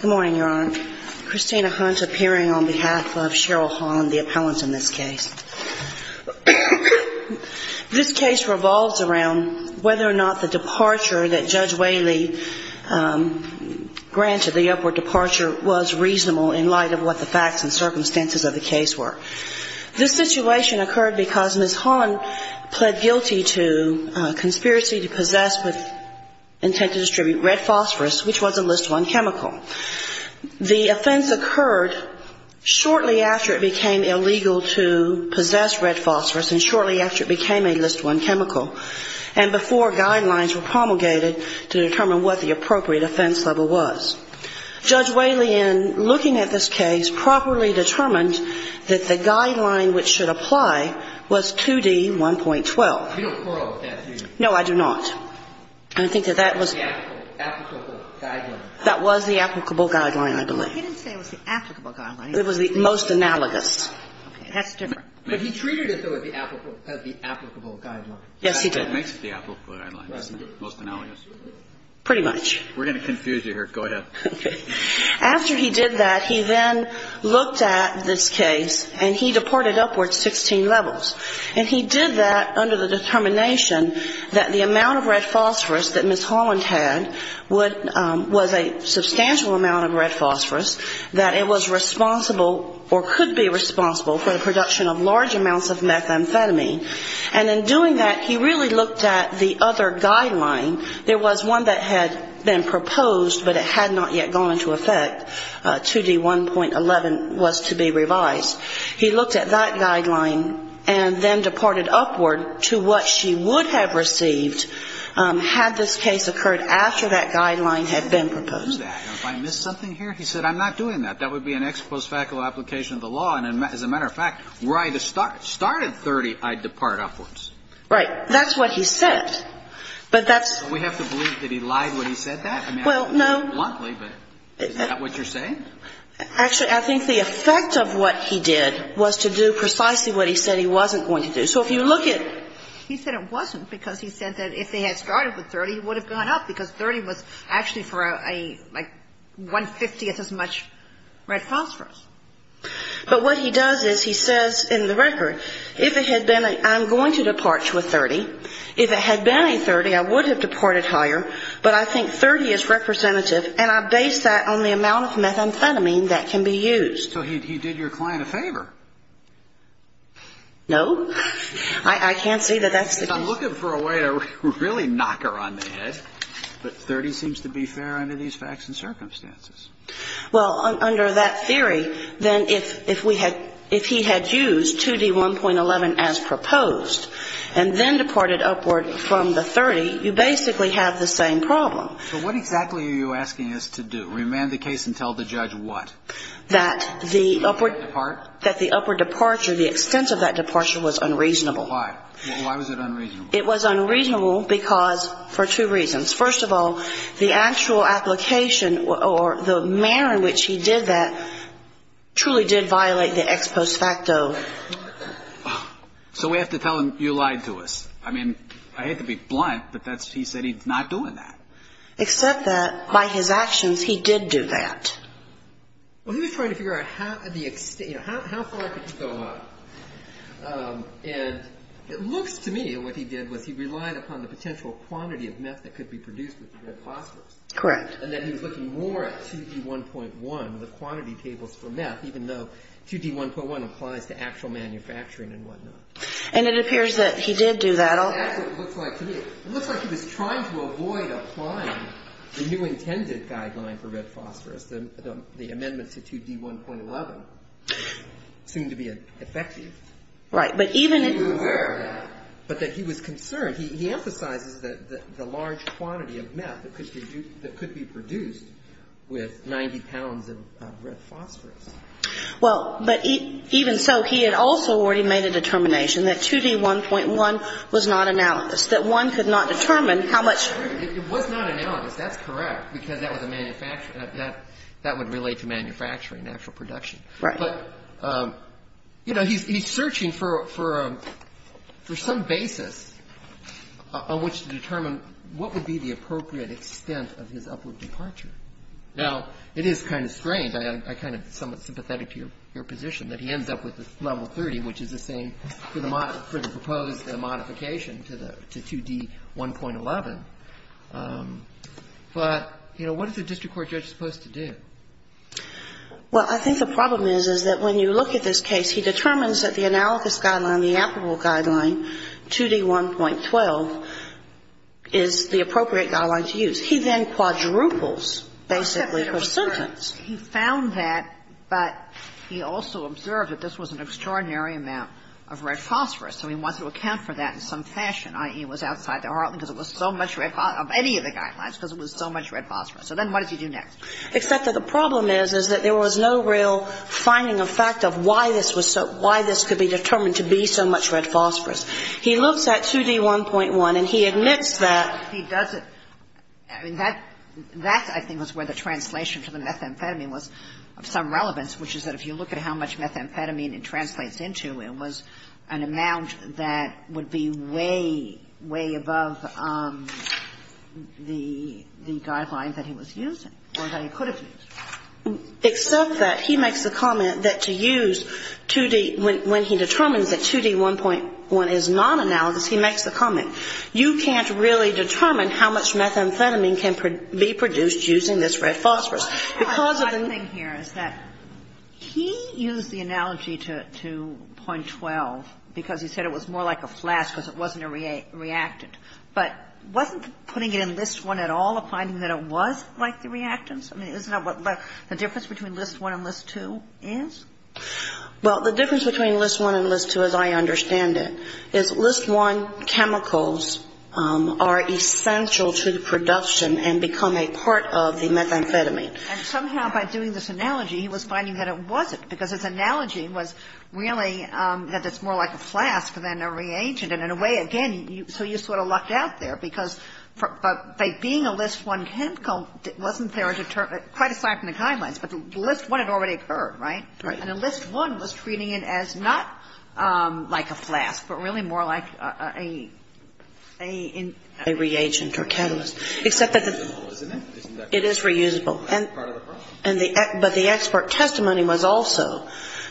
Good morning, Your Honor. Christina Hunt appearing on behalf of Cheryl Holland, the appellant in this case. This case revolves around whether or not the departure that Judge Whaley granted the upward departure was reasonable in light of what the facts and circumstances of the case were. This situation occurred because Ms. Holland pled guilty to conspiracy to possess with intent to distribute red phosphorous, which was a List I chemical. The offense occurred shortly after it became illegal to possess red phosphorous and shortly after it became a List I chemical, and before guidelines were promulgated to determine what the appropriate offense level was. Judge Whaley, in looking at this case, properly determined that the amount of red phosphorus that was distributed to Ms. Holland was the most applicable guideline. And I think that that was the applicable guideline. That was the applicable guideline, I believe. He didn't say it was the applicable guideline. It was the most analogous. Okay. That's different. But he treated it, though, as the applicable guideline. Yes, he did. That's what makes it the applicable guideline, most analogous. Pretty much. We're going to confuse you here. Go ahead. Okay. After he did that, he then determined that the amount of red phosphorous that Ms. Holland had was a substantial amount of red phosphorous, that it was responsible or could be responsible for the production of large amounts of methamphetamine. And in doing that, he really looked at the other guideline. There was one that had been proposed, but it had not yet gone into effect. 2D1.11 was to be revised. He looked at that guideline and then departed upward to what she would have received had this case occurred after that guideline had been proposed. And if I missed something here, he said, I'm not doing that. That would be an ex-post facula application of the law. And as a matter of fact, were I to start at 30, I'd depart upwards. Right. That's what he said. But that's We have to believe that he lied when he said that? Well, no. Bluntly, but is that what you're saying? Actually, I think the effect of what he did was to do precisely what he said he wasn't going to do. So if you look at He said it wasn't because he said that if they had started with 30, it would have gone up because 30 was actually for a like 150th as much red phosphorous. But what he does is he says in the record, if it had been I'm going to depart to a 30. If it had been a 30, I would have departed higher. But I think 30 is representative. And I base that on the amount of methamphetamine that can be used. So he did your client a No. I can't see that that's I'm looking for a way to really knock her on the head. But 30 seems to be fair under these facts and circumstances. Well, under that theory, then if if we had if he had used 2D 1.11 as proposed and then departed upward from the 30, you basically have the same problem. So what exactly are you asking us to do? Remand the case and tell the judge what that the upward part that the upward departure, the extent of that departure was unreasonable. Why was it unreasonable? It was unreasonable because for two reasons. First of all, the actual application or the manner in which he did that truly did violate the ex post facto. So we have to tell him you lied to us. I mean, I hate to be blunt, but that's he said he's not doing that. Except that by his actions, he did do that. Well, he was trying to figure out how the extent how far could you go up? And it looks to me what he did was he relied upon the potential quantity of meth that could be produced. Correct. And then he was looking more at 2D 1.1, the quantity tables for meth, even though 2D 1.1 applies to actual manufacturing and whatnot. And it appears that he did do that. It looks like he was trying to avoid applying the new intended guideline for red phosphorus. The amendment to 2D 1.11 seemed to be effective. Right. But even But that he was concerned, he emphasizes that the large quantity of meth that could be produced with 90 pounds of red phosphorus. Well, but even so, he had also already made a determination that 2D 1.1 was not analogous, that one could not determine how much. It was not analogous. That's correct. Because that was a manufacturer. That would relate to manufacturing, actual production. Right. But, you know, he's searching for some basis on which to determine what would be the appropriate extent of his upward departure. Now, it is kind of strange. I'm kind of somewhat sympathetic to your position that he ends up with level 30, which is the same for the proposed modification to 2D 1.11. But, you know, what is a district court judge supposed to do? Well, I think the problem is, is that when you look at this case, he determines that the analogous guideline, the applicable guideline, 2D 1.12, is the appropriate guideline to use. He then quadruples, basically, his sentence. He found that, but he also observed that this was an extraordinary amount of red phosphorus. So he wants to account for that in some fashion, i.e., it was outside the heartland because it was so much red phosphorus, of any of the guidelines, because it was so much red phosphorus. So then what does he do next? Except that the problem is, is that there was no real finding of fact of why this was so — why this could be determined to be so much red phosphorus. He looks at 2D 1.1, and he admits that he doesn't — I mean, that — that, I think, was where the translation to the methamphetamine was of some relevance, which is that if you look at how much methamphetamine it translates into, it was an amount that would be way, way above the — the guideline that he was using, or that he could have used. Except that he makes the comment that to use 2D — when he determines that 2D 1.1 is non-analogous, he makes the comment, you can't really determine how much methamphetamine can be produced using this red phosphorus. Because of the — The odd thing here is that he used the analogy to — to .12 because he said it was more like a flask because it wasn't a reactant. But wasn't putting it in List I at all a finding that it was like the reactants? I mean, isn't that what the difference between List I and List II is? Well, the difference between List I and List II, as I understand it, is List I chemicals are essential to the production and become a part of the methamphetamine. And somehow by doing this analogy, he was finding that it wasn't because his analogy was really that it's more like a flask than a reagent. And in a way, again, so you sort of lucked out there because by being a List I chemical wasn't there to determine — quite aside from the guidelines, but List I had already occurred, right? Right. And a List I was treating it as not like a flask, but really more like a — a — a reagent or catalyst. Except that the — It's reusable, isn't it? Isn't that part of the problem? It is reusable. And the — but the expert testimony was also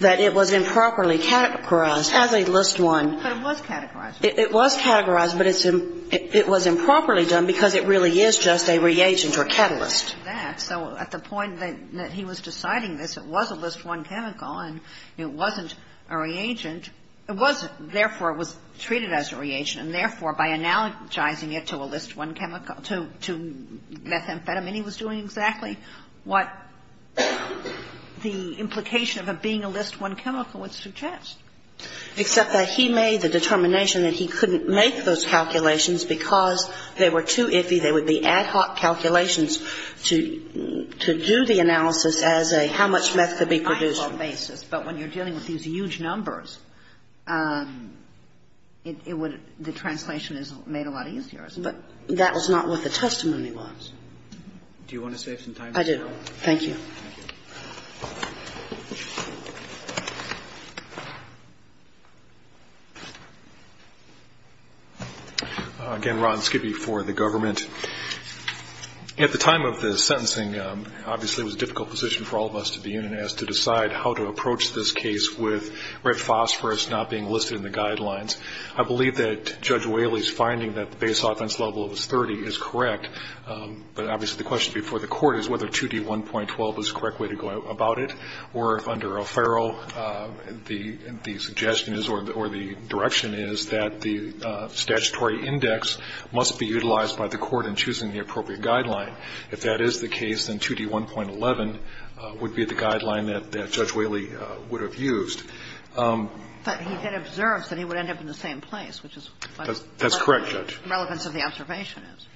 that it was improperly categorized as a List I. But it was categorized. It was categorized, but it's — it was improperly done because it really is just a reagent or catalyst. And that's the point that he was deciding that it was a List I chemical and it wasn't a reagent. It wasn't. Therefore, it was treated as a reagent. And therefore, by analogizing it to a List I chemical — to methamphetamine, he was doing exactly what the implication of it being a List I chemical would suggest. Except that he made the determination that he couldn't make those calculations because they were too iffy. They would be ad hoc calculations to — to do the analysis as a how much meth could be produced. But when you're dealing with these huge numbers, it would — the translation is made a lot easier, isn't it? But that was not what the testimony was. Do you want to save some time? I do. Thank you. Again, Ron Skibbe for the government. At the time of the sentencing, obviously it was a difficult position for all of us to be in as to decide how to approach this case with red phosphorus not being listed in the guidelines. I believe that Judge Whaley's finding that the base offense level was 30 is correct. But obviously the question before the Court is whether 2D1.12 is the correct way to go about it, or if under O'Farrell the suggestion is or the direction is that the statutory index must be utilized by the Court in choosing the appropriate guideline. If that is the case, then 2D1.11 would be the guideline that Judge Whaley would have used. But he had observed that he would end up in the same place, which is what the relevance of the observation is.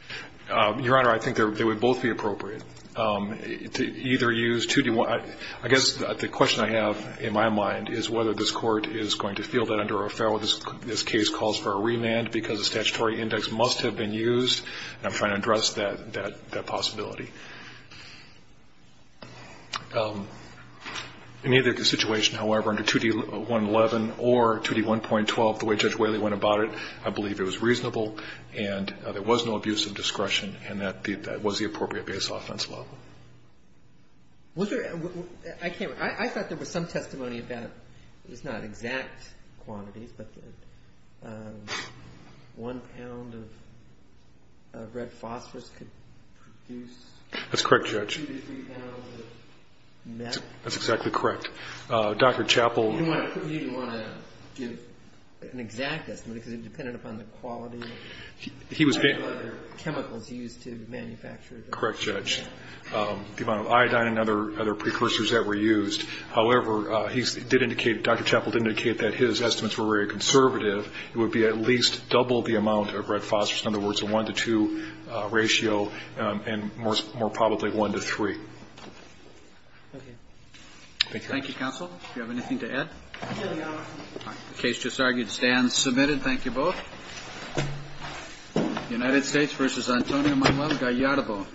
Your Honor, I think they would both be appropriate. To either use 2D1. I guess the question I have in my mind is whether this Court is going to feel that under O'Farrell this case calls for a remand because the statutory index must have been used. And I'm trying to address that possibility. In either situation, however, under 2D1.11 or 2D1.12, the way Judge Whaley went about it, I believe it was reasonable and there was no abuse of discretion and that was the appropriate base offense law. Was there – I can't remember. I thought there was some testimony about it's not exact quantities, but one pound of red phosphorus could produce 2 to 3 pounds of metal. That's correct, Judge. That's exactly correct. Dr. Chappell. He didn't want to give an exact estimate because it depended upon the quality of the chemicals used to manufacture it. Correct, Judge. The amount of iodine and other precursors that were used. However, he did indicate, Dr. Chappell did indicate that his estimates were very conservative. It would be at least double the amount of red phosphorus. In other words, a 1 to 2 ratio and more probably 1 to 3. Okay. Thank you, Counsel. Do you have anything to add? No, Your Honor. The case just argued stands submitted. Thank you both. United States v. Antonio Manuel Gallardo.